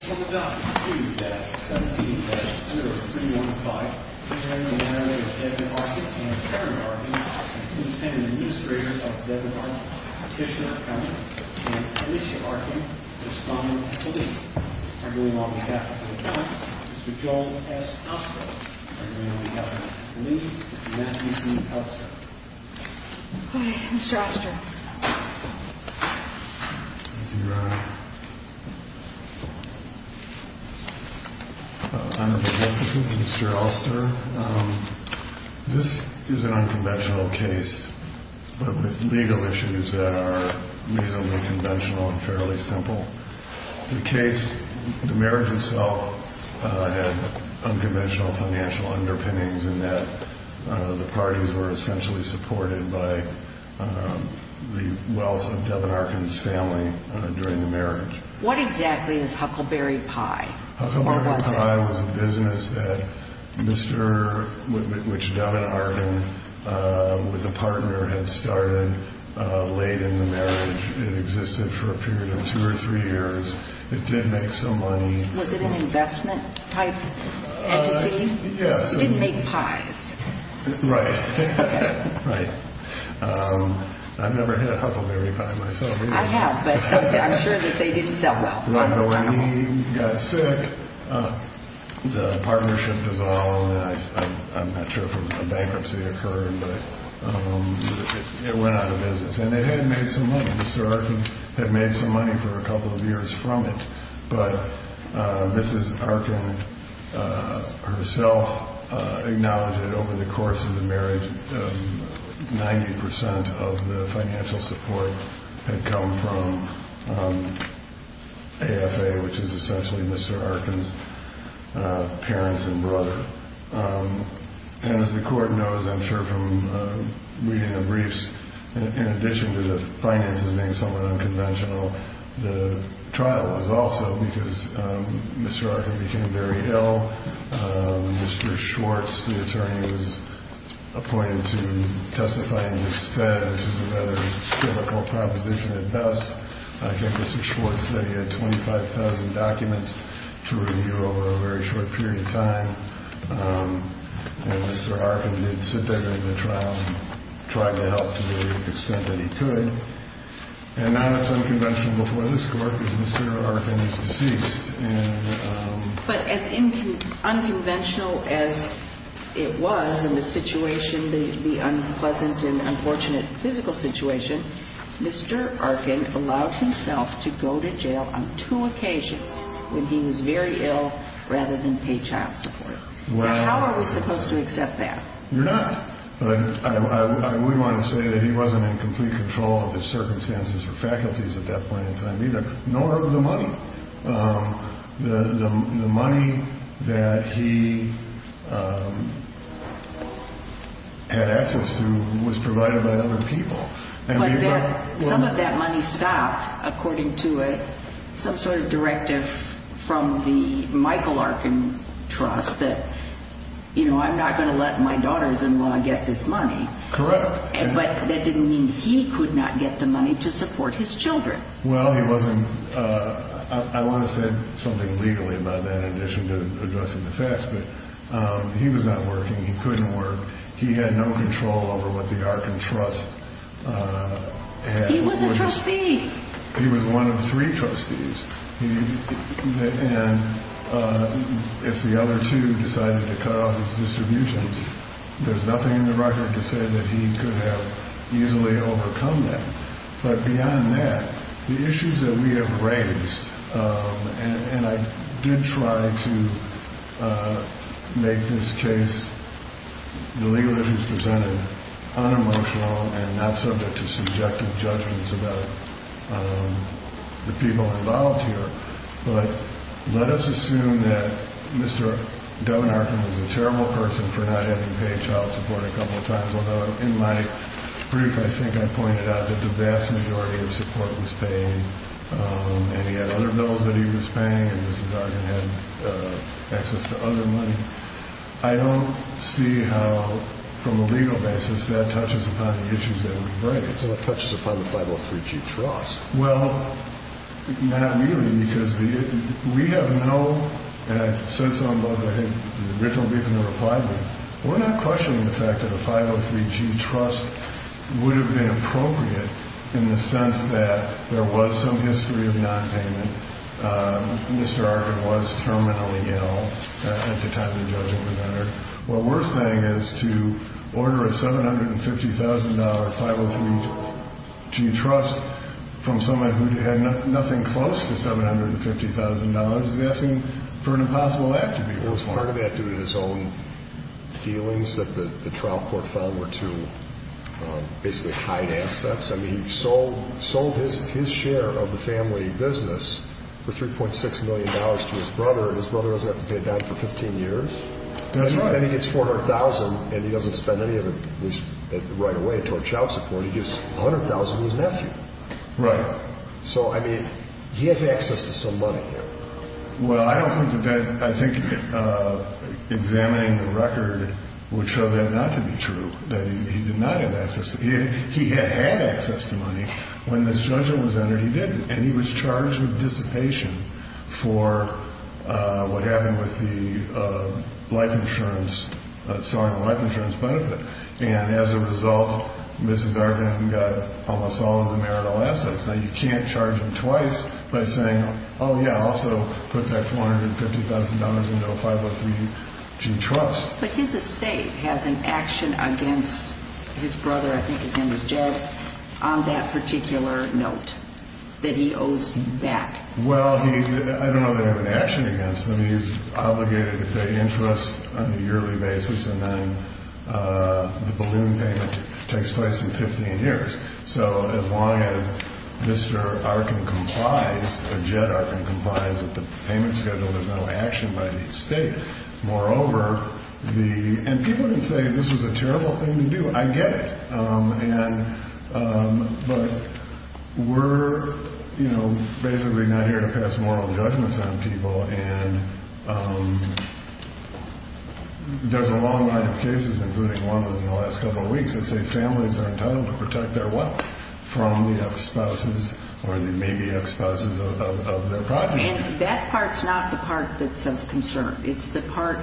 17-0315 Marriage of Debra Arkin and Karen Arkin as Independent Administrators of Debra Arkin, Petitioner Accountant and Alicia Arkin, Respondent and Police. On behalf of the Department, Mr. Joel S. Oster. On behalf of the Police, Mr. Matthew T. Oster. Hi, Mr. Oster. Thank you, Your Honor. On behalf of Mr. Oster, this is an unconventional case with legal issues that are reasonably conventional and fairly simple. The case, the marriage itself had unconventional financial underpinnings in that the parties were essentially supported by the wealth of Debra Arkin's family during the marriage. What exactly is Huckleberry Pie? Huckleberry Pie was a business that Mr., which Debra Arkin was a partner, had started late in the marriage. It existed for a period of two or three years. It did make some money. Was it an investment type entity? Yes. It didn't make pies. Right. Right. I've never had a Huckleberry Pie myself. I have, but I'm sure that they didn't sell well. Right. But when he got sick, the partnership dissolved. I'm not sure if a bankruptcy occurred, but it went out of business. And it had made some money. Mr. Arkin had made some money for a couple of years from it. But Mrs. Arkin herself acknowledged that over the course of the marriage, 90 percent of the financial support had come from AFA, which is essentially Mr. Arkin's parents and brother. And as the court knows, I'm sure from reading the briefs, in addition to the finances being somewhat unconventional, the trial was also because Mr. Arkin became very ill. Mr. Schwartz, the attorney, was appointed to testify instead, which is a rather difficult proposition at best. I think Mr. Schwartz said he had 25,000 documents to review over a very short period of time. And Mr. Arkin did sit there during the trial and tried to help to the extent that he could. And now it's unconventional before this Court because Mr. Arkin is deceased. But as unconventional as it was in the situation, the unpleasant and unfortunate physical situation, Mr. Arkin allowed himself to go to jail on two occasions when he was very ill rather than pay child support. How are we supposed to accept that? You're not. I would want to say that he wasn't in complete control of his circumstances or faculties at that point in time either, nor of the money. The money that he had access to was provided by other people. Some of that money stopped, according to some sort of directive from the Michael Arkin Trust that, you know, I'm not going to let my daughter's-in-law get this money. Correct. But that didn't mean he could not get the money to support his children. Well, he wasn't. I want to say something legally about that in addition to addressing the facts, but he was not working. He couldn't work. He had no control over what the Arkin Trust had. He was a trustee. He was one of three trustees. And if the other two decided to cut off his distributions, there's nothing in the record to say that he could have easily overcome that. But beyond that, the issues that we have raised, and I did try to make this case, the legal issues presented, unemotional and not subject to subjective judgments about the people involved here. But let us assume that Mr. Devin Arkin was a terrible person for not having paid child support a couple of times. Although in my brief, I think I pointed out that the vast majority of support was paid, and he had other bills that he was paying, and Mrs. Arkin had access to other money. I don't see how, from a legal basis, that touches upon the issues that we've raised. Well, it touches upon the 503G Trust. Well, not really, because we have no, and I said so in both the original brief and the reply brief, we're not questioning the fact that a 503G Trust would have been appropriate in the sense that there was some history of nonpayment. Mr. Arkin was terminally ill at the time the judgment was entered. What we're saying is to order a $750,000 503G Trust from someone who had nothing close to $750,000 is asking for an impossible act to be performed. Part of that, due to his own dealings, that the trial court filed were to basically hide assets. I mean, he sold his share of the family business for $3.6 million to his brother, and his brother doesn't have to pay it back for 15 years. That's right. And he gets $400,000, and he doesn't spend any of it right away toward child support. He gives $100,000 to his nephew. Right. So, I mean, he has access to some money here. Well, I don't think that, I think examining the record would show that not to be true, that he did not have access. He had access to money. When this judgment was entered, he didn't. And he was charged with dissipation for what happened with the life insurance, selling the life insurance benefit. And as a result, Mrs. Arkin got almost all of the marital assets. Now, you can't charge him twice by saying, oh, yeah, also put that $450,000 into a 503G Trust. But his estate has an action against his brother, I think his name was Jed, on that particular note that he owes back. Well, I don't know that they have an action against him. He's obligated to pay interest on a yearly basis, and then the balloon payment takes place in 15 years. So as long as Mr. Arkin complies, or Jed Arkin complies with the payment schedule, there's no action by the estate. Moreover, the – and people can say this was a terrible thing to do. I get it. And – but we're, you know, basically not here to pass moral judgments on people. And there's a long line of cases, including one of them in the last couple of weeks, that say families are entitled to protect their wealth from the ex-spouses or the maybe ex-spouses of their project. And that part's not the part that's of concern. It's the part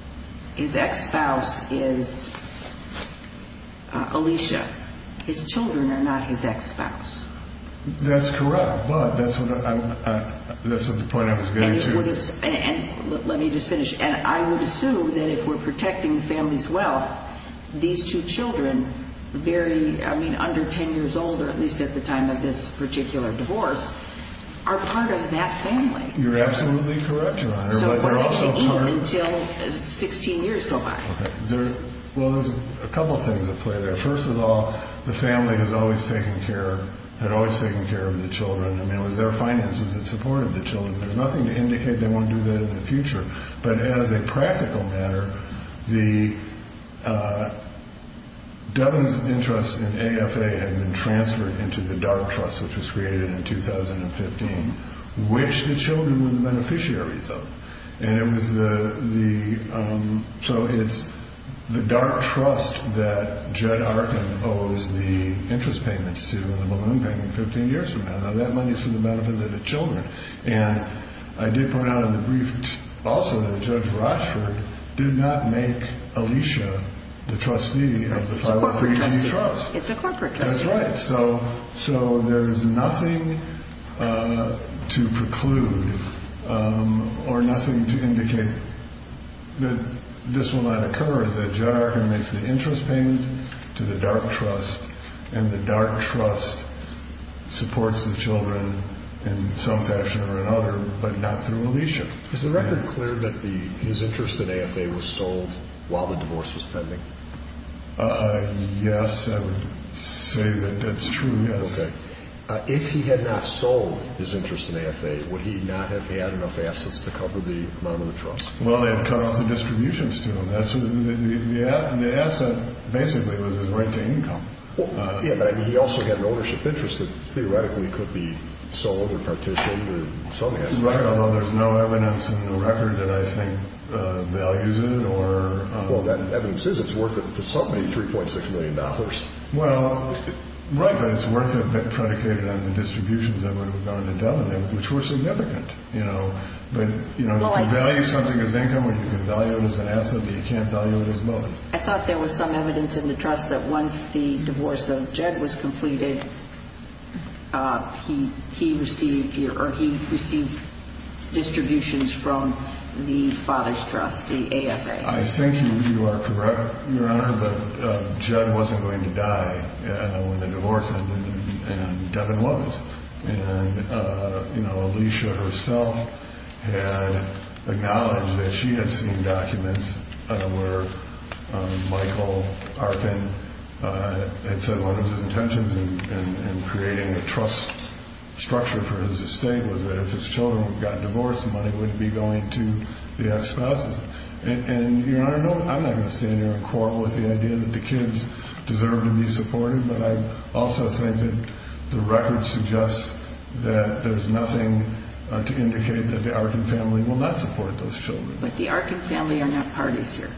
– his ex-spouse is Alicia. His children are not his ex-spouse. That's correct. But that's what I'm – that's what the point I was getting to. And it would – and let me just finish. And I would assume that if we're protecting the family's wealth, these two children, very – I mean, under 10 years old, or at least at the time of this particular divorce, are part of that family. You're absolutely correct, Your Honor. So it won't actually end until 16 years go by. Okay. There – well, there's a couple things at play there. First of all, the family has always taken care – had always taken care of the children. I mean, it was their finances that supported the children. There's nothing to indicate they won't do that in the future. But as a practical matter, the government's interest in AFA had been transferred into the DART Trust, which was created in 2015, which the children were the beneficiaries of. And it was the – so it's the DART Trust that Judd Arkin owes the interest payments to and the balloon payment 15 years from now. Now, that money is for the benefit of the children. And I did point out in the brief also that Judge Rochford did not make Alicia the trustee of the 503B Trust. It's a corporate trust. That's right. So there is nothing to preclude or nothing to indicate that this will not occur. is that Judd Arkin makes the interest payments to the DART Trust, and the DART Trust supports the children in some fashion or another, but not through Alicia. Is the record clear that the – his interest in AFA was sold while the divorce was pending? Yes, I would say that that's true, yes. Okay. If he had not sold his interest in AFA, would he not have had enough assets to cover the amount of the trust? Well, they had cut off the distributions to him. The asset basically was his right to income. Yeah, but he also had an ownership interest that theoretically could be sold or partitioned or something. Right, although there's no evidence in the record that I think values it or – Well, that evidence is it's worth it to somebody $3.6 million. Well, right, but it's worth it predicated on the distributions that were done to them, which were significant. But if you value something as income, you can value it as an asset, but you can't value it as both. I thought there was some evidence in the trust that once the divorce of Judd was completed, he received distributions from the father's trust, the AFA. I think you are correct, Your Honor, but Judd wasn't going to die when the divorce ended, and Devin was. And Alicia herself had acknowledged that she had seen documents where Michael Arkin had said one of his intentions in creating a trust structure for his estate was that if his children got divorced, the money would be going to the ex-spouses. And, Your Honor, I'm not going to stand here and quarrel with the idea that the kids deserve to be supported, but I also think that the record suggests that there's nothing to indicate that the Arkin family will not support those children. But the Arkin family are not parties here.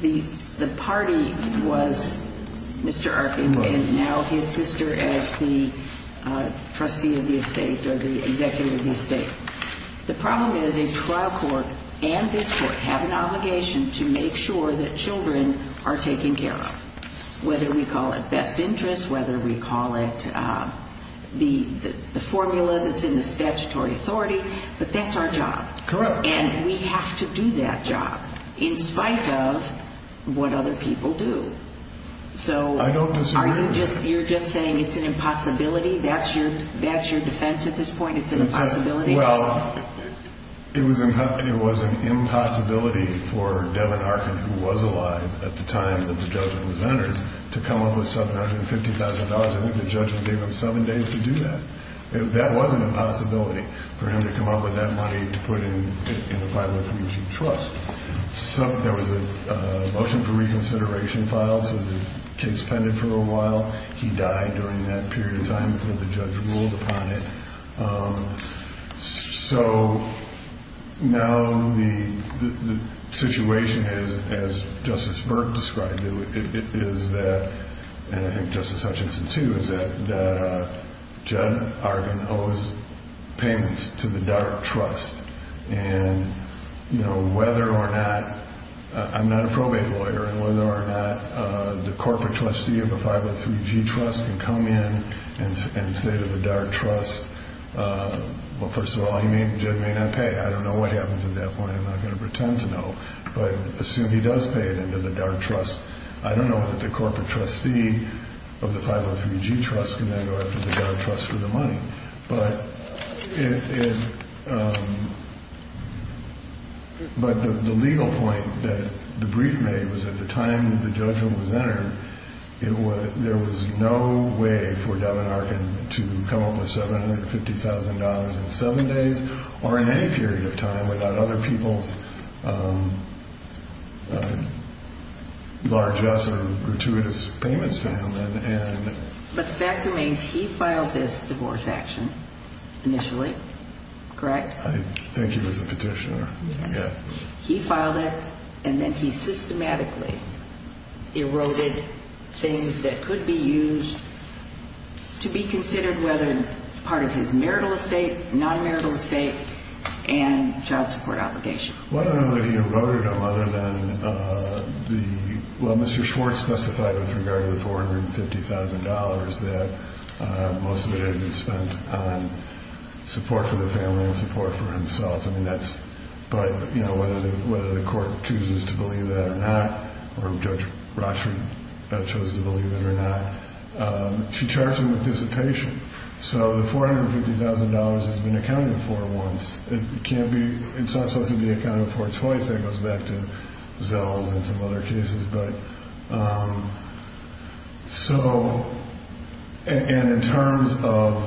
The party was Mr. Arkin and now his sister as the trustee of the estate or the executive of the estate. The problem is a trial court and this court have an obligation to make sure that children are taken care of, whether we call it best interests, whether we call it the formula that's in the statutory authority, but that's our job. Correct. And we have to do that job in spite of what other people do. I don't disagree with that. So you're just saying it's an impossibility? That's your defense at this point? It's an impossibility? It's an impossibility for Devin Arkin, who was alive at the time that the judgment was entered, to come up with $750,000. I think the judgment gave him seven days to do that. That wasn't a possibility for him to come up with that money to put in the file of three years of trust. There was a motion for reconsideration filed, so the case pended for a while. He died during that period of time until the judge ruled upon it. So now the situation is, as Justice Burke described it, is that, and I think Justice Hutchinson, too, is that Judd Arkin owes payments to the Dart Trust. And whether or not – I'm not a probate lawyer – whether or not the corporate trustee of the 503G Trust can come in and say to the Dart Trust, well, first of all, he may or may not pay. I don't know what happens at that point. I'm not going to pretend to know. But assume he does pay it into the Dart Trust. I don't know that the corporate trustee of the 503G Trust can then go after the Dart Trust for the money. But the legal point that the brief made was at the time that the judgment was entered, there was no way for Devin Arkin to come up with $750,000 in seven days or in any period of time without other people's largess or gratuitous payments to him. But the fact remains he filed this divorce action initially, correct? I think he was the petitioner. He filed it, and then he systematically eroded things that could be used to be considered whether part of his marital estate, non-marital estate, and child support obligation. Well, I don't know that he eroded them other than the – well, Mr. Schwartz testified with regard to the $450,000 that most of it had been spent on support for the family and support for himself. I mean, that's – but, you know, whether the court chooses to believe that or not, or Judge Rothschild chose to believe it or not, she charged him with dissipation. So the $450,000 has been accounted for once. It can't be – it's not supposed to be accounted for twice. That goes back to Zell's and some other cases. But so – and in terms of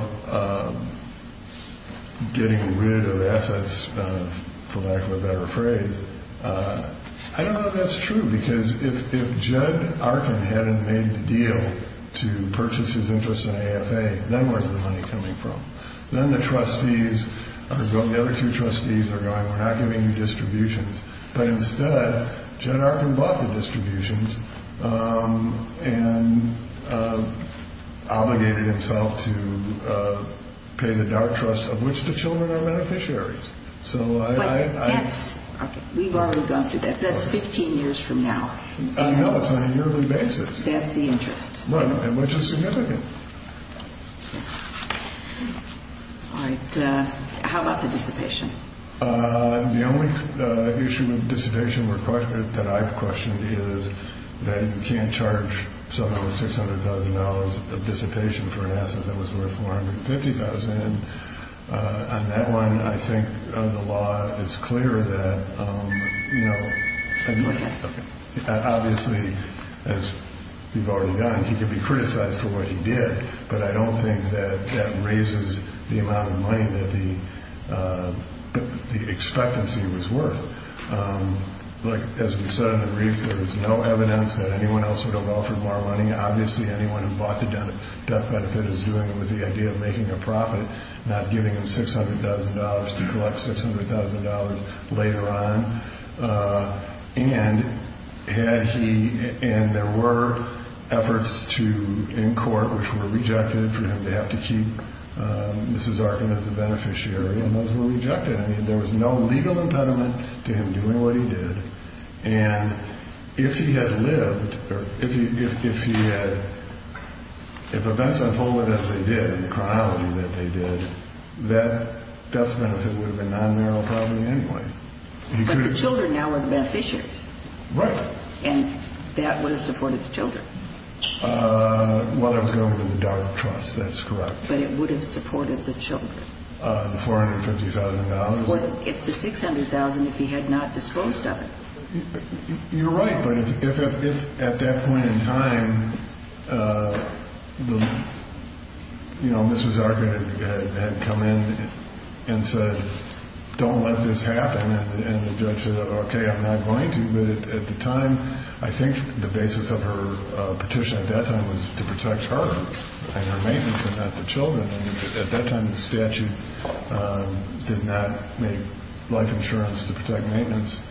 getting rid of assets, for lack of a better phrase, I don't know if that's true because if Judd Arkin hadn't made the deal to purchase his interest in AFA, then where's the money coming from? Then the trustees – the other two trustees are going, we're not giving you distributions. But instead, Judd Arkin bought the distributions and obligated himself to pay the dark trust of which the children are beneficiaries. So I – But that's – we've already gone through that. That's 15 years from now. I know. It's on a yearly basis. That's the interest. Right. Which is significant. All right. How about the dissipation? The only issue with dissipation that I've questioned is that you can't charge someone with $600,000 of dissipation for an asset that was worth $450,000. And on that one, I think the law is clear that, you know – Okay. Obviously, as we've already done, he can be criticized for what he did, but I don't think that that raises the amount of money that the expectancy was worth. Like, as we said in the brief, there is no evidence that anyone else would have offered more money. Obviously, anyone who bought the death benefit is doing it with the idea of making a profit, not giving them $600,000 to collect $600,000 later on. And there were efforts in court which were rejected for him to have to keep Mrs. Arkin as the beneficiary, and those were rejected. I mean, there was no legal impediment to him doing what he did. And if he had lived, or if events unfolded as they did, in the chronology that they did, that death benefit would have been non-marital property anyway. But the children now are the beneficiaries. Right. And that would have supported the children. Well, that was going to the dog trust, that's correct. But it would have supported the children. The $450,000? Well, if the $600,000, if he had not disposed of it. You're right, but if at that point in time, you know, Mrs. Arkin had come in and said, don't let this happen, and the judge said, okay, I'm not going to. But at the time, I think the basis of her petition at that time was to protect her and her maintenance and not the children. At that time, the statute did not make life insurance to protect maintenance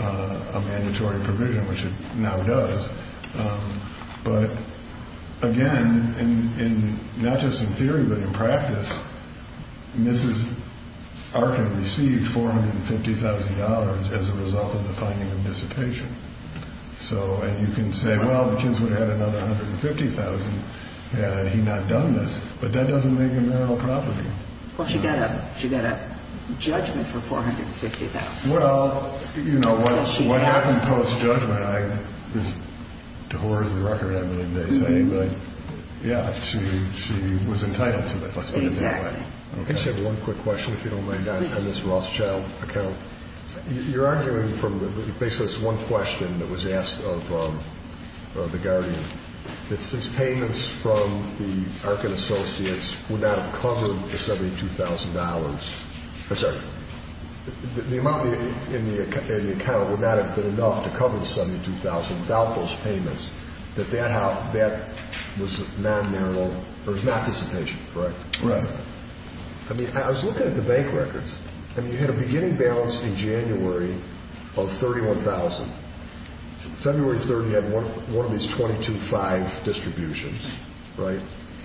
a mandatory provision, which it now does. But again, not just in theory, but in practice, Mrs. Arkin received $450,000 as a result of the finding of dissipation. And you can say, well, the kids would have had another $150,000 had he not done this, but that doesn't make it marital property. Well, she got a judgment for $450,000. Well, you know, what happened post-judgment, to her is the record, I believe they say. But, yeah, she was entitled to it, let's put it that way. I just have one quick question, if you don't mind, on this Rothschild account. You're arguing from basically this one question that was asked of the Guardian, that since payments from the Arkin Associates would not have covered the $72,000, I'm sorry, the amount in the account would not have been enough to cover the $72,000 without those payments, that that was non-marital, or it was not dissipation, correct? Right. I mean, I was looking at the bank records. I mean, you had a beginning balance in January of $31,000. February 3rd, you had one of these 22-5 distributions, right?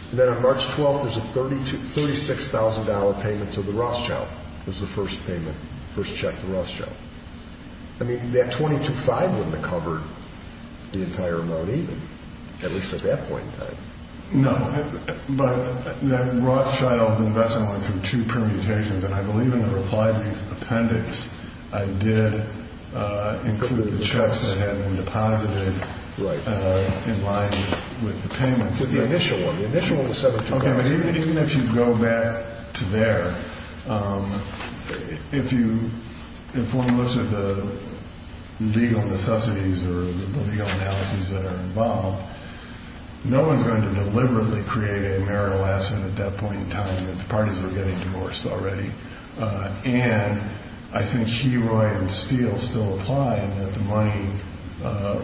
And then on March 12th, there's a $36,000 payment to the Rothschild. It was the first payment, first check to Rothschild. I mean, that 22-5 wouldn't have covered the entire amount even, at least at that point in time. No, but that Rothschild investment went through two permutations, and I believe in the reply to the appendix, I did include the checks that had been deposited in line with the payments. The initial one, the initial $72,000. Okay, but even if you go back to there, if you inform those of the legal necessities or the legal analyses that are involved, no one's going to deliberately create a marital asset at that point in time if the parties were getting divorced already. And I think Heroy and Steele still apply in that the money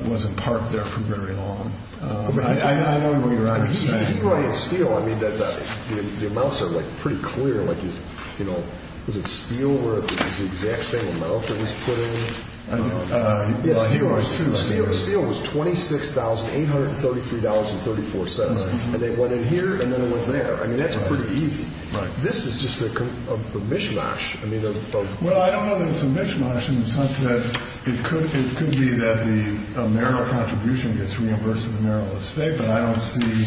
wasn't parked there for very long. I know what you're saying. Heroy and Steele, I mean, the amounts are, like, pretty clear. Like, you know, was it Steele where it was the exact same amount that was put in? I don't know. Yeah, Steele was too, right? Steele was $26,833.34, and they went in here, and then they went there. I mean, that's pretty easy. Right. This is just a mishmash. Well, I don't know that it's a mishmash in the sense that it could be that the marital contribution gets reimbursed to the marital estate, but I don't see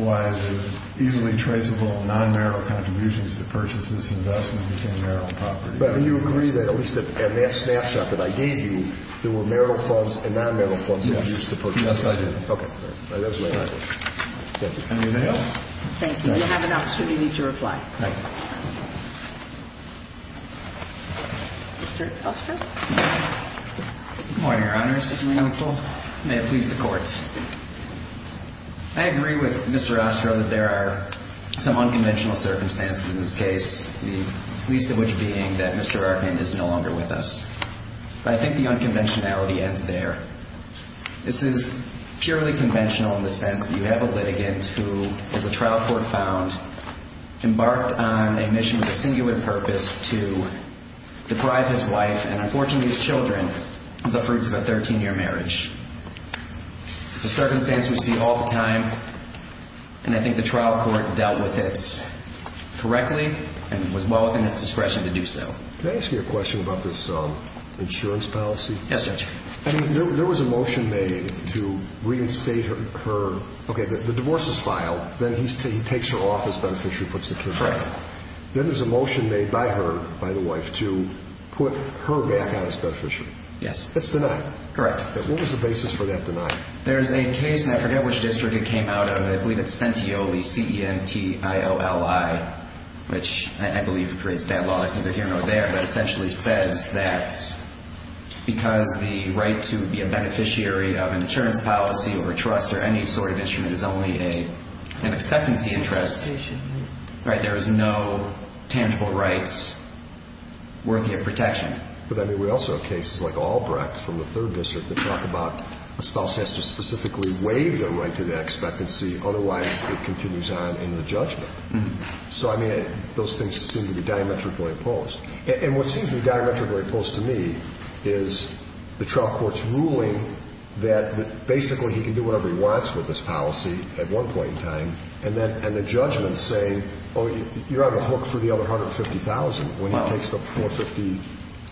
why the easily traceable non-marital contributions to purchase this investment became marital property. But do you agree that at least in that snapshot that I gave you, there were marital funds and non-marital funds that were used to purchase? Yes, I do. Okay. Thank you. You have an opportunity to reply. Thank you. Mr. Ostro. Good morning, Your Honors. Good morning, Counsel. May it please the Court. I agree with Mr. Ostro that there are some unconventional circumstances in this case, the least of which being that Mr. Arkin is no longer with us. But I think the unconventionality ends there. This is purely conventional in the sense that you have a litigant who, as a trial court found, embarked on a mission with a singular purpose to deprive his wife and, unfortunately, his children of the fruits of a 13-year marriage. It's a circumstance we see all the time, and I think the trial court dealt with it correctly and was well within its discretion to do so. May I ask you a question about this insurance policy? Yes, Judge. There was a motion made to reinstate her. Okay, the divorce is filed. Then he takes her off as beneficiary and puts the kids back. Correct. Then there's a motion made by her, by the wife, to put her back on as beneficiary. Yes. That's denied. Correct. What was the basis for that denial? There's a case, and I forget which district it came out of, but I believe it's Centioli, C-E-N-T-I-O-L-I, which I believe creates bad law. I said they're here and they're there. It essentially says that because the right to be a beneficiary of insurance policy or trust or any sort of instrument is only an expectancy interest, there is no tangible rights worthy of protection. But, I mean, we also have cases like Albrecht from the 3rd District that talk about a spouse has to specifically waive their right to that expectancy. Otherwise, it continues on in the judgment. So, I mean, those things seem to be diametrically opposed. And what seems to be diametrically opposed to me is the trial court's ruling that basically he can do whatever he wants with this policy at one point in time, and the judgment's saying, oh, you're on the hook for the other $150,000 when he takes the $450,000.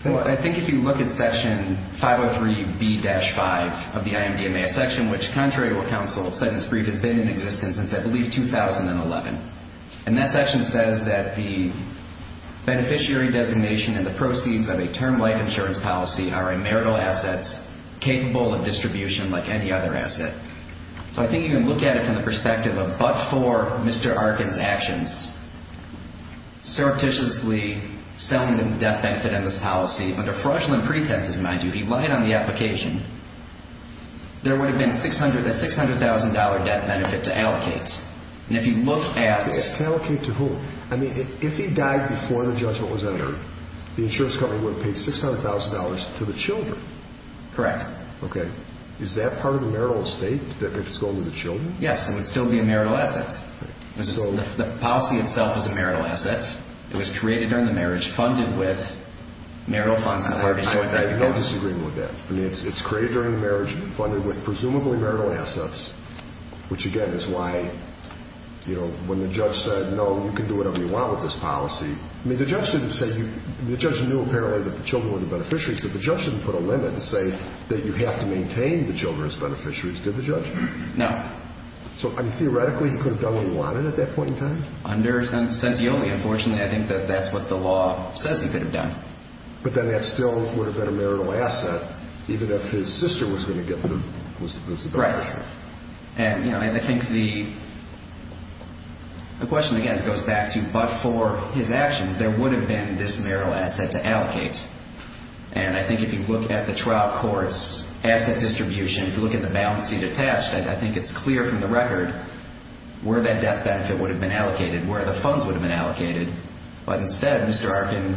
I think if you look at Section 503B-5 of the IMDMA, a section which, contrary to what counsel said in this brief, has been in existence since, I believe, 2011. And that section says that the beneficiary designation and the proceeds of a term life insurance policy are a marital asset capable of distribution like any other asset. So I think if you look at it from the perspective of but-for Mr. Arkin's actions, surreptitiously selling the death benefit on this policy under fraudulent pretenses, mind you, he lied on the application, there would have been a $600,000 death benefit to allocate. And if you look at... To allocate to whom? I mean, if he died before the judgment was entered, the insurance company would have paid $600,000 to the children. Correct. Okay. Is that part of the marital estate if it's going to the children? Yes, it would still be a marital asset. The policy itself is a marital asset. It was created during the marriage, funded with marital funds. I have no disagreement with that. I mean, it's created during the marriage, funded with presumably marital assets, which, again, is why, you know, when the judge said, no, you can do whatever you want with this policy, I mean, the judge didn't say you... The judge knew apparently that the children were the beneficiaries, but the judge didn't put a limit and say that you have to maintain the children as beneficiaries, did the judge? No. So, I mean, theoretically, he could have done what he wanted at that point in time? Under Sentioli, unfortunately, I think that that's what the law says he could have done. But then that still would have been a marital asset even if his sister was going to get the benefit. Right. And, you know, I think the question, again, goes back to, but for his actions, there would have been this marital asset to allocate. And I think if you look at the trial court's asset distribution, if you look at the balance sheet attached, I think it's clear from the record where that death benefit would have been allocated, where the funds would have been allocated. But instead, Mr. Arkin,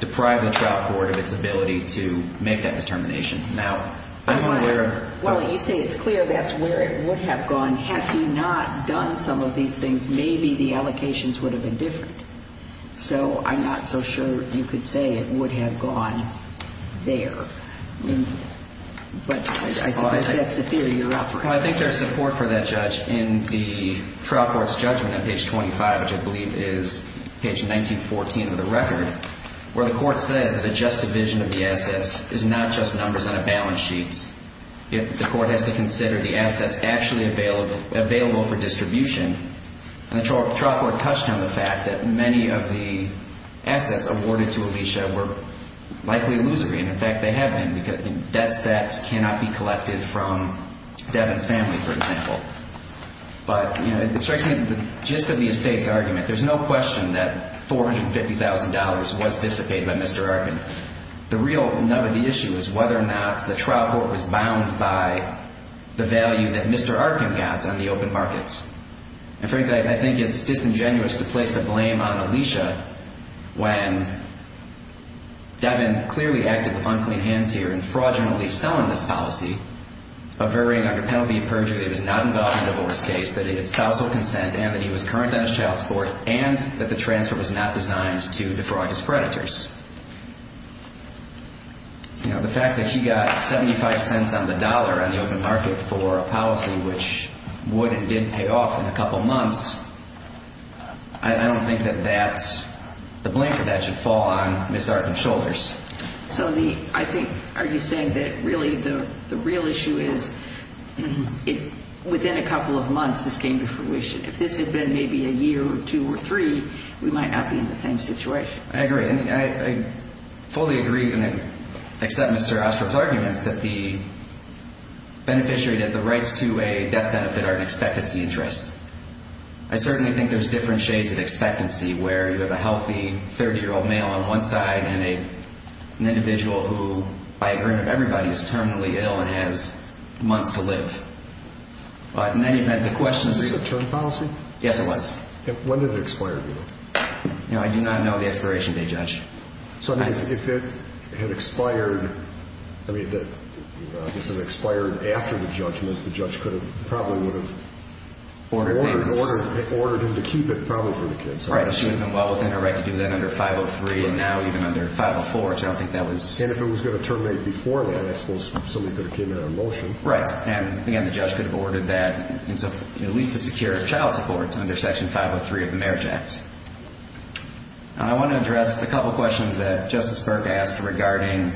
deprived the trial court of its ability to make that determination. Now, I'm not aware of... Well, you say it's clear that's where it would have gone. Had he not done some of these things, maybe the allocations would have been different. So I'm not so sure you could say it would have gone there. But I suppose that's the theory you're offering. Well, I think there's support for that, Judge. In the trial court's judgment on page 25, which I believe is page 1914 of the record, where the court says that a just division of the assets is not just numbers on a balance sheet. The court has to consider the assets actually available for distribution. And the trial court touched on the fact that many of the assets awarded to Alicia were likely illusory. And, in fact, they have been. Debts that cannot be collected from Devin's family, for example. But, you know, it strikes me the gist of the estate's argument. There's no question that $450,000 was dissipated by Mr. Arkin. The real nub of the issue is whether or not the trial court was bound by the value that Mr. Arkin got on the open markets. In fact, I think it's disingenuous to place the blame on Alicia when Devin clearly acted with unclean hands here and fraudulently selling this policy, averring under penalty of perjury that he was not involved in a divorce case, that he had spousal consent, and that he was current on his child support, and that the transfer was not designed to defraud his predators. You know, the fact that he got 75 cents on the dollar on the open market for a policy which would and did pay off in a couple months, I don't think that that's the blanket that should fall on Ms. Arkin's shoulders. So, I think, are you saying that really the real issue is within a couple of months this came to fruition? If this had been maybe a year or two or three, we might not be in the same situation. I agree. I fully agree, except Mr. Ostroff's arguments, that the beneficiary, that the rights to a death benefit are an expectancy interest. I certainly think there's different shades of expectancy where you have a healthy 30-year-old male on one side and an individual who, by agreement of everybody, is terminally ill and has months to live. But in any event, the question is... Was this a term policy? Yes, it was. When did it expire, do you think? I do not know the expiration date, Judge. So, if it had expired, I mean, if this had expired after the judgment, the judge probably would have... Ordered payments. Ordered him to keep it, probably for the kids. Right, because she wouldn't have been well within her right to do that under 503 and now even under 504, so I don't think that was... And if it was going to terminate before that, I suppose somebody could have came in on a motion. Right, and again, the judge could have ordered that at least to secure child support under Section 503 of the Marriage Act. I want to address a couple questions that Justice Burke asked regarding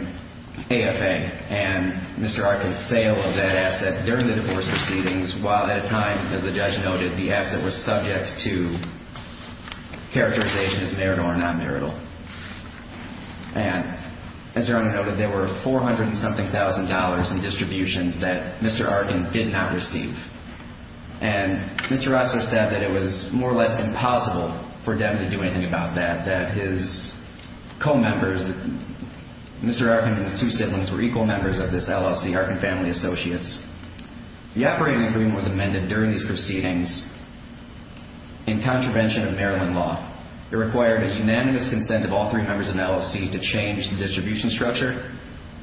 AFA and Mr. Arkin's sale of that asset during the divorce proceedings while at a time, as the judge noted, the asset was subject to characterization as marital or non-marital. And, as your Honor noted, there were 400 and something thousand dollars in distributions that Mr. Arkin did not receive. And Mr. Rosler said that it was more or less impossible for Devin to do anything about that, that his co-members, Mr. Arkin and his two siblings were equal members of this LLC, Arkin Family Associates. The operating agreement was amended during these proceedings in contravention of Maryland law. It required a unanimous consent of all three members of the LLC to change the distribution structure.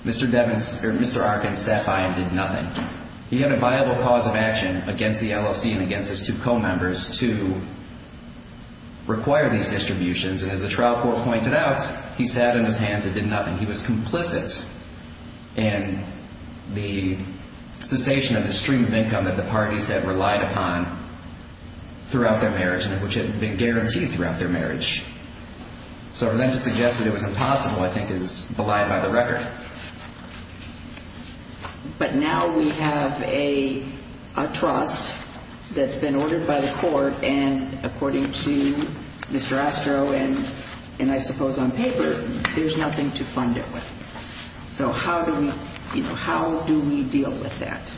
Mr. Arkin sat by and did nothing. He had a viable cause of action against the LLC and against his two co-members to require these distributions, and as the trial court pointed out, he sat on his hands and did nothing. He was complicit in the cessation of the stream of income that the parties had relied upon throughout their marriage, which had been guaranteed throughout their marriage. So for them to suggest that it was impossible, I think, is belied by the record. But now we have a trust that's been ordered by the court, and according to Mr. Astro and I suppose on paper, there's nothing to fund it with. So how do we deal with that?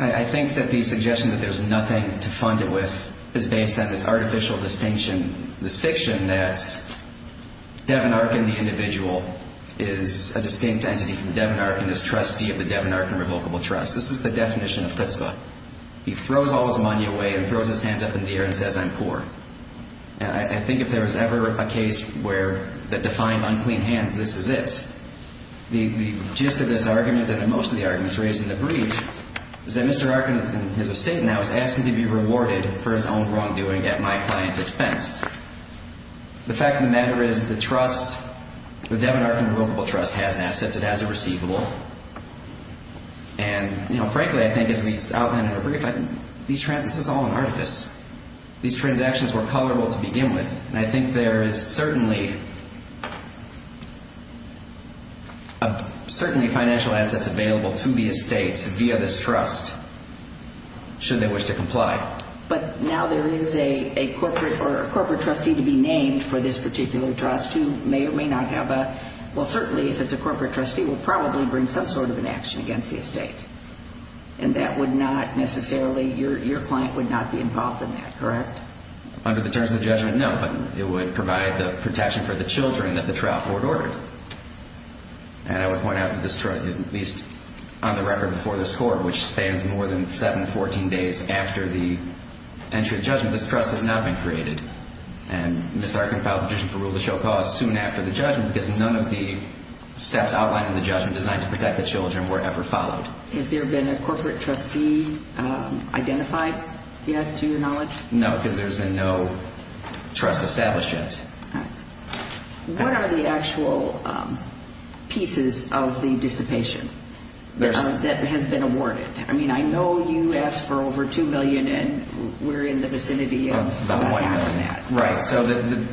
I think that the suggestion that there's nothing to fund it with is based on this artificial distinction, this fiction that Devin Arkin, the individual, is a distinct entity from Devin Arkin, is trustee of the Devin Arkin Revocable Trust. This is the definition of chutzpah. He throws all his money away and throws his hands up in the air and says, I'm poor. I think if there was ever a case that defined unclean hands, this is it. The gist of this argument, and of most of the arguments raised in the brief, is that Mr. Arkin, in his estate now, is asking to be rewarded for his own wrongdoing at my client's expense. The fact of the matter is the trust, the Devin Arkin Revocable Trust, has assets. It has a receivable. And frankly, I think, as we outlined in our brief, these transactions are all an artifice. These transactions were colorable to begin with. And I think there is certainly financial assets available to the estate via this trust, should they wish to comply. But now there is a corporate trustee to be named for this particular trust who may or may not have a – well, certainly, if it's a corporate trustee, will probably bring some sort of an action against the estate. And that would not necessarily – your client would not be involved in that, correct? Under the terms of the judgment, no. But it would provide the protection for the children that the trial court ordered. And I would point out that this – at least on the record before this court, which spans more than 7 to 14 days after the entry of the judgment, this trust has not been created. And Ms. Arkin filed a petition for rule to show cause soon after the judgment because none of the steps outlined in the judgment designed to protect the children were ever followed. No, because there's been no trust established yet. All right. What are the actual pieces of the dissipation that has been awarded? I mean, I know you asked for over $2 million, and we're in the vicinity of that. Right. So the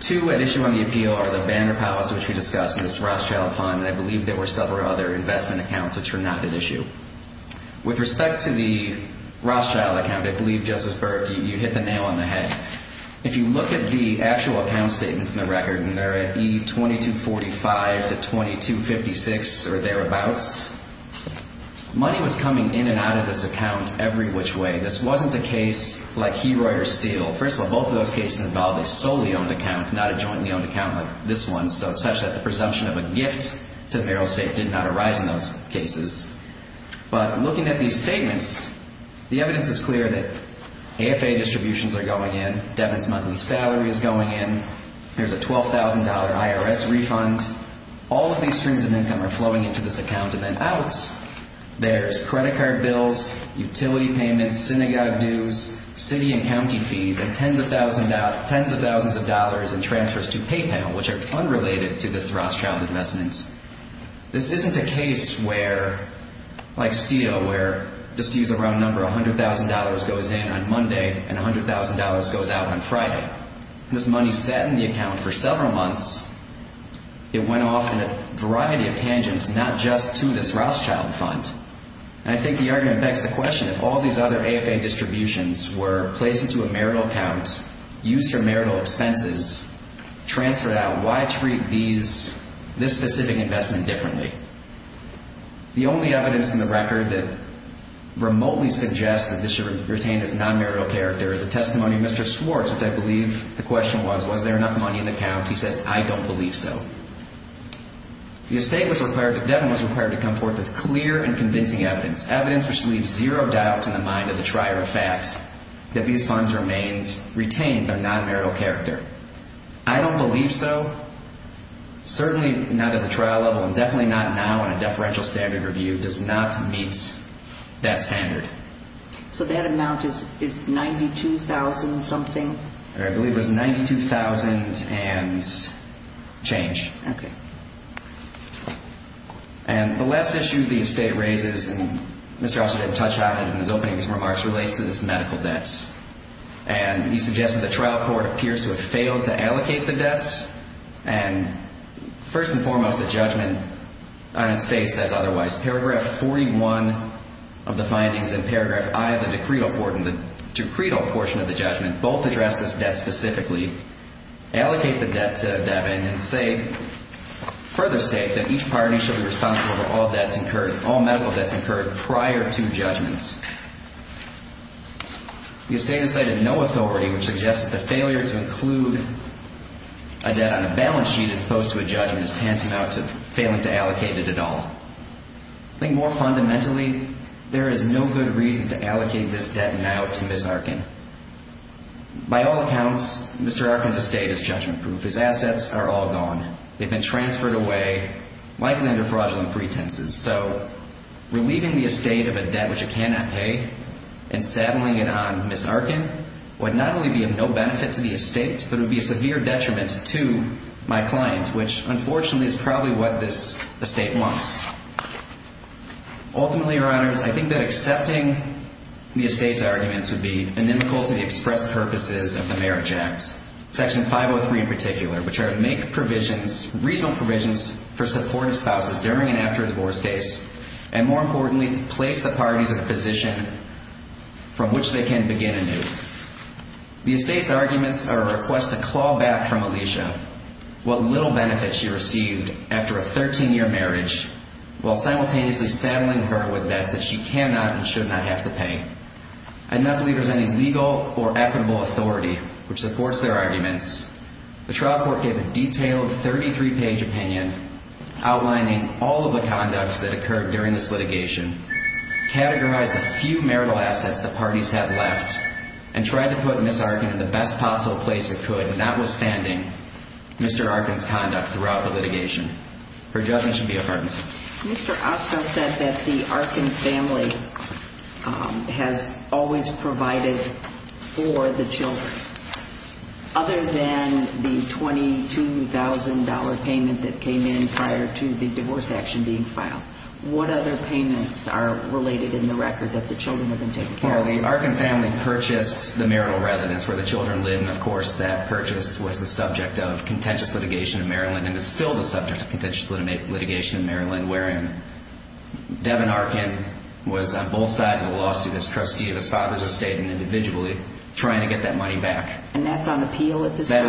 two at issue on the appeal are the Banner Palace, which we discussed, and this Rothschild Fund. And I believe there were several other investment accounts which were not at issue. With respect to the Rothschild account, I believe, Justice Burke, you hit the nail on the head. If you look at the actual account statements in the record, and they're at E2245 to E2256 or thereabouts, money was coming in and out of this account every which way. This wasn't a case like Heroy or Steele. First of all, both of those cases involved a solely-owned account, not a jointly-owned account like this one, such that the presumption of a gift to the mayoral estate did not arise in those cases. But looking at these statements, the evidence is clear that AFA distributions are going in. Devin's monthly salary is going in. There's a $12,000 IRS refund. All of these strings of income are flowing into this account and then out. There's credit card bills, utility payments, synagogue dues, city and county fees, and tens of thousands of dollars in transfers to PayPal, which are unrelated to this Rothschild investment. This isn't a case like Steele where, just to use a round number, $100,000 goes in on Monday and $100,000 goes out on Friday. This money sat in the account for several months. It went off in a variety of tangents, not just to this Rothschild fund. And I think the argument begs the question, if all these other AFA distributions were placed into a marital account, used for marital expenses, transferred out, why treat this specific investment differently? The only evidence in the record that remotely suggests that this should retain its non-marital character is the testimony of Mr. Swartz, which I believe the question was, was there enough money in the account? He says, I don't believe so. The estate was required to come forth with clear and convincing evidence, evidence which leaves zero doubt in the mind of the trier of facts that these funds retained their non-marital character. I don't believe so. Certainly not at the trial level and definitely not now in a deferential standard review. It does not meet that standard. So that amount is $92,000 something? I believe it was $92,000 and change. Okay. And the last issue the estate raises, and Mr. Osler did touch on it in his opening remarks, relates to this medical debts. And he suggests that the trial court appears to have failed to allocate the debts. And first and foremost, the judgment on its face says otherwise. Paragraph 41 of the findings and paragraph I of the decreed portion of the judgment both address this debt specifically. Allocate the debt to Devon and say, further state that each party should be responsible for all debts incurred, all medical debts incurred prior to judgments. The estate has cited no authority which suggests that the failure to include a debt on a balance sheet as opposed to a judgment is tantamount to failing to allocate it at all. I think more fundamentally, there is no good reason to allocate this debt now to Ms. Arkin. By all accounts, Mr. Arkin's estate is judgment-proof. His assets are all gone. They've been transferred away, likely under fraudulent pretenses. So relieving the estate of a debt which it cannot pay and saddling it on Ms. Arkin would not only be of no benefit to the estate, but it would be a severe detriment to my client, which unfortunately is probably what this estate wants. Ultimately, Your Honors, I think that accepting the estate's arguments would be inimical to the express purposes of the Marriage Act. Section 503 in particular, which are to make provisions, reasonable provisions for supportive spouses during and after a divorce case, and more importantly, to place the parties in a position from which they can begin anew. The estate's arguments are a request to claw back from Alicia what little benefit she received after a 13-year marriage while simultaneously saddling her with debts that she cannot and should not have to pay. I do not believe there is any legal or equitable authority which supports their arguments. The trial court gave a detailed 33-page opinion outlining all of the conducts that occurred during this litigation, categorized the few marital assets the parties had left, and tried to put Ms. Arkin in the best possible place it could, notwithstanding Mr. Arkin's conduct throughout the litigation. Her judgment should be abhorrent. Mr. Ostfeld said that the Arkin family has always provided for the children. Other than the $22,000 payment that came in prior to the divorce action being filed, what other payments are related in the record that the children have been taking care of? Well, the Arkin family purchased the marital residence where the children lived, and of course that purchase was the subject of contentious litigation in Maryland and is still the subject of contentious litigation in Maryland, wherein Devin Arkin was on both sides of the lawsuit as trustee of his father's estate and individually trying to get that money back. And that's on appeal at this point?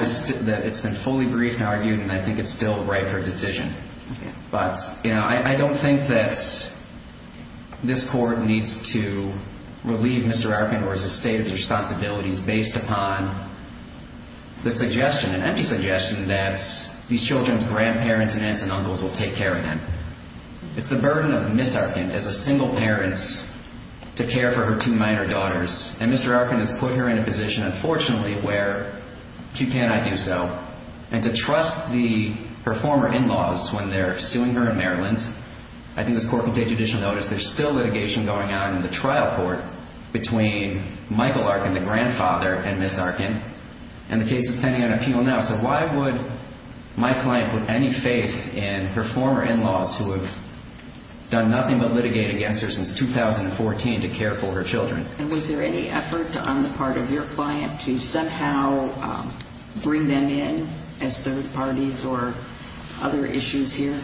It's the burden of Ms. Arkin as a single parent to care for her two minor daughters, and Mr. Arkin has put her in a position, unfortunately, where she cannot do so, and to trust her former in-laws when they're suing her in Maryland. I think this court will take judicial notice. There's still litigation going on in the trial court between Michael Arkin, the grandfather, and Ms. Arkin, and the case is pending on appeal now. So why would my client put any faith in her former in-laws who have done nothing but litigate against her since 2014 to care for her children? And was there any effort on the part of your client to somehow bring them in as third parties or other issues here?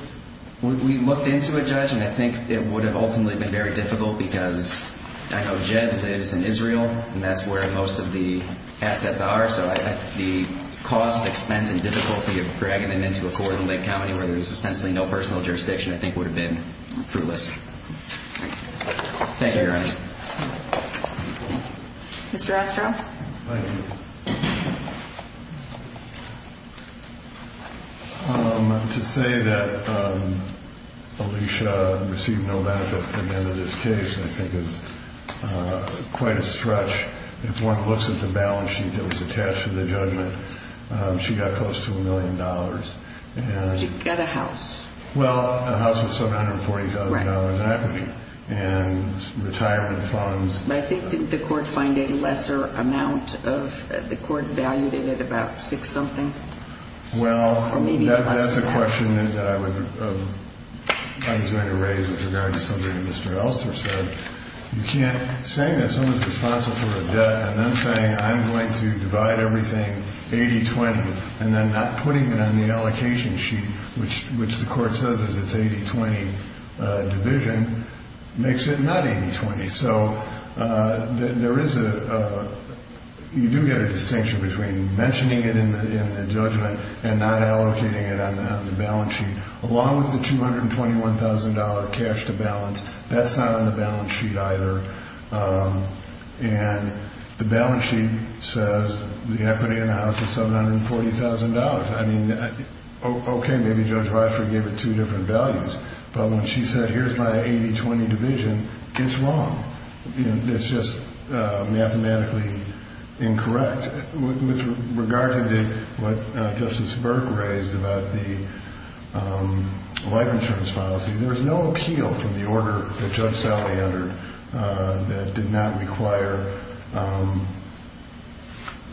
We looked into it, Judge, and I think it would have ultimately been very difficult because I know Jed lives in Israel, and that's where most of the assets are. So the cost, expense, and difficulty of dragging them into a court in Lake County where there's essentially no personal jurisdiction I think would have been fruitless. Thank you, Your Honor. Mr. Ostrow? Thank you. To say that Alicia received no benefit at the end of this case I think is quite a stretch. If one looks at the balance sheet that was attached to the judgment, she got close to a million dollars. She got a house. Well, a house with $740,000 in equity and retirement funds. But I think didn't the court find a lesser amount of – the court valued it at about six-something? Well, that's a question that I was going to raise with regard to something that Mr. Elster said. You can't – saying that someone's responsible for a debt and then saying I'm going to divide everything 80-20 and then not putting it on the allocation sheet, which the court says is its 80-20 division, makes it not 80-20. So there is a – you do get a distinction between mentioning it in the judgment and not allocating it on the balance sheet. Along with the $221,000 cash to balance, that's not on the balance sheet either. And the balance sheet says the equity in the house is $740,000. I mean, okay, maybe Judge Weissberg gave it two different values. But when she said here's my 80-20 division, it's wrong. It's just mathematically incorrect. With regard to what Justice Burke raised about the life insurance policy, there is no appeal from the order that Judge Sallie entered that did not require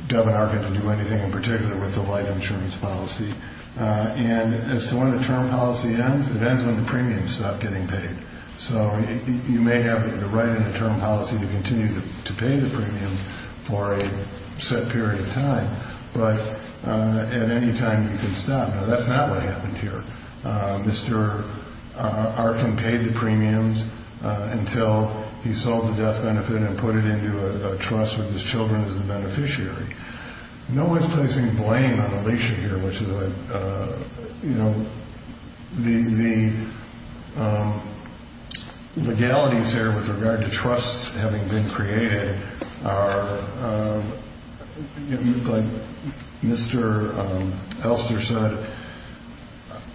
Devin Arkin to do anything in particular with the life insurance policy. And as to when the term policy ends, it ends when the premiums stop getting paid. So you may have the right in the term policy to continue to pay the premiums for a set period of time, but at any time you can stop. Now, that's not what happened here. Mr. Arkin paid the premiums until he sold the death benefit and put it into a trust with his children as the beneficiary. No one's placing blame on Alicia here, which is a, you know, the legalities here with regard to trusts having been created are, like Mr. Elster said,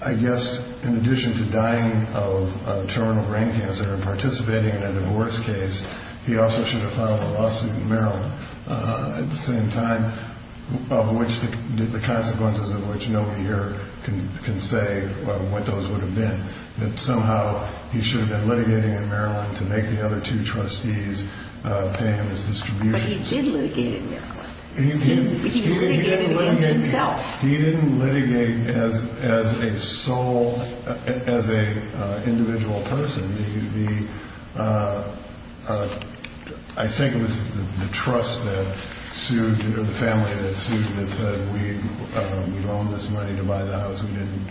I guess in addition to dying of terminal brain cancer and participating in a divorce case, he also should have filed a lawsuit in Maryland at the same time, of which the consequences of which nobody here can say what those would have been, that somehow he should have been litigating in Maryland to make the other two trustees pay him his distributions. But he did litigate in Maryland. He litigated against himself. He didn't litigate as a sole, as a individual person. I think it was the trust that sued or the family that sued that said we loaned this money to buy the house, we didn't.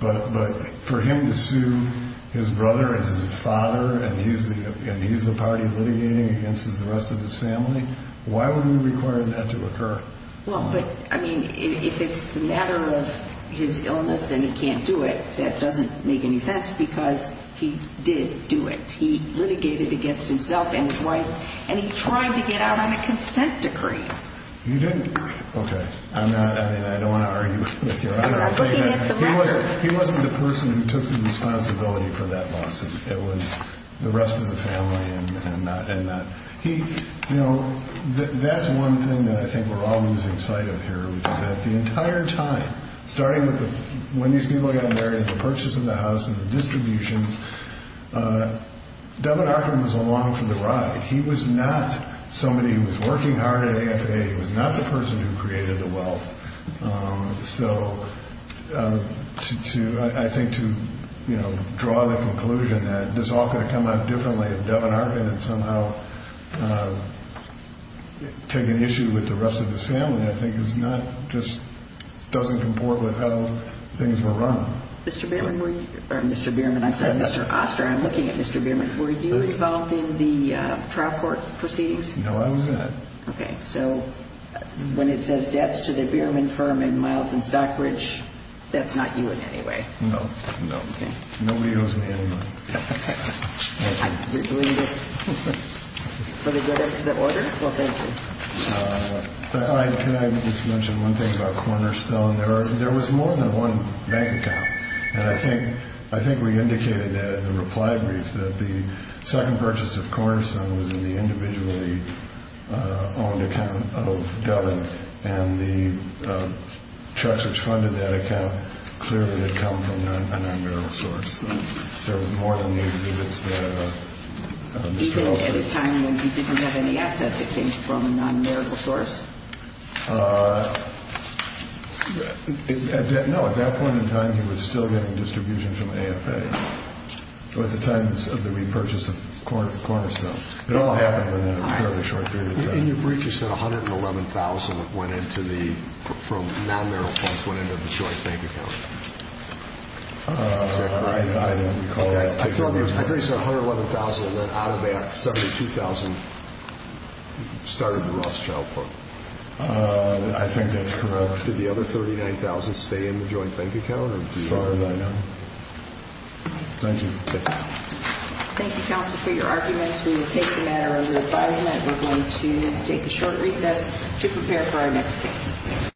But for him to sue his brother and his father and he's the party litigating against the rest of his family, why would we require that to occur? Well, but, I mean, if it's the matter of his illness and he can't do it, that doesn't make any sense because he did do it. He litigated against himself and his wife, and he tried to get out on a consent decree. You didn't? Okay. I'm not, I mean, I don't want to argue with you. He wasn't the person who took the responsibility for that lawsuit. It was the rest of the family and not, he, you know, that's one thing that I think we're all losing sight of here, which is that the entire time, starting with the, when these people got married, the purchase of the house and the distributions, Devin Arkham was along for the ride. He was not somebody who was working hard at AFA. He was not the person who created the wealth. So to, I think to, you know, draw the conclusion that this all could have come out differently if Devin Arkham had somehow taken issue with the rest of his family, I think is not, just doesn't comport with how things were run. Mr. Bierman, or Mr. Bierman, I'm sorry, Mr. Oster, I'm looking at Mr. Bierman. Were you involved in the trial court proceedings? No, I wasn't. Okay. So when it says debts to the Bierman firm and Miles and Stockbridge, that's not you in any way? No, no. Okay. Nobody owes me any money. We're doing this for the good of the order? Well, thank you. Can I just mention one thing about Cornerstone? There was more than one bank account. And I think we indicated that in the reply brief, that the second purchase of Cornerstone was in the individually owned account of Devin, and the checks which funded that account clearly had come from a non-merital source. So there was more than the exhibits that Mr. Oster had. Did he go at a time when he didn't have any assets that came from a non-merital source? No, at that point in time, he was still getting distribution from AFA. So at the time of the repurchase of Cornerstone. It all happened within a fairly short period of time. In your brief, you said $111,000 went into the, from non-merital funds, went into the joint bank account. I don't recall that. I thought you said $111,000, and then out of that, $72,000 started the Rothschild fund. I think that's correct. Did the other $39,000 stay in the joint bank account? As far as I know. Thank you. Thank you, counsel, for your arguments. We will take the matter under advisement. We're going to take a short recess to prepare for our next case.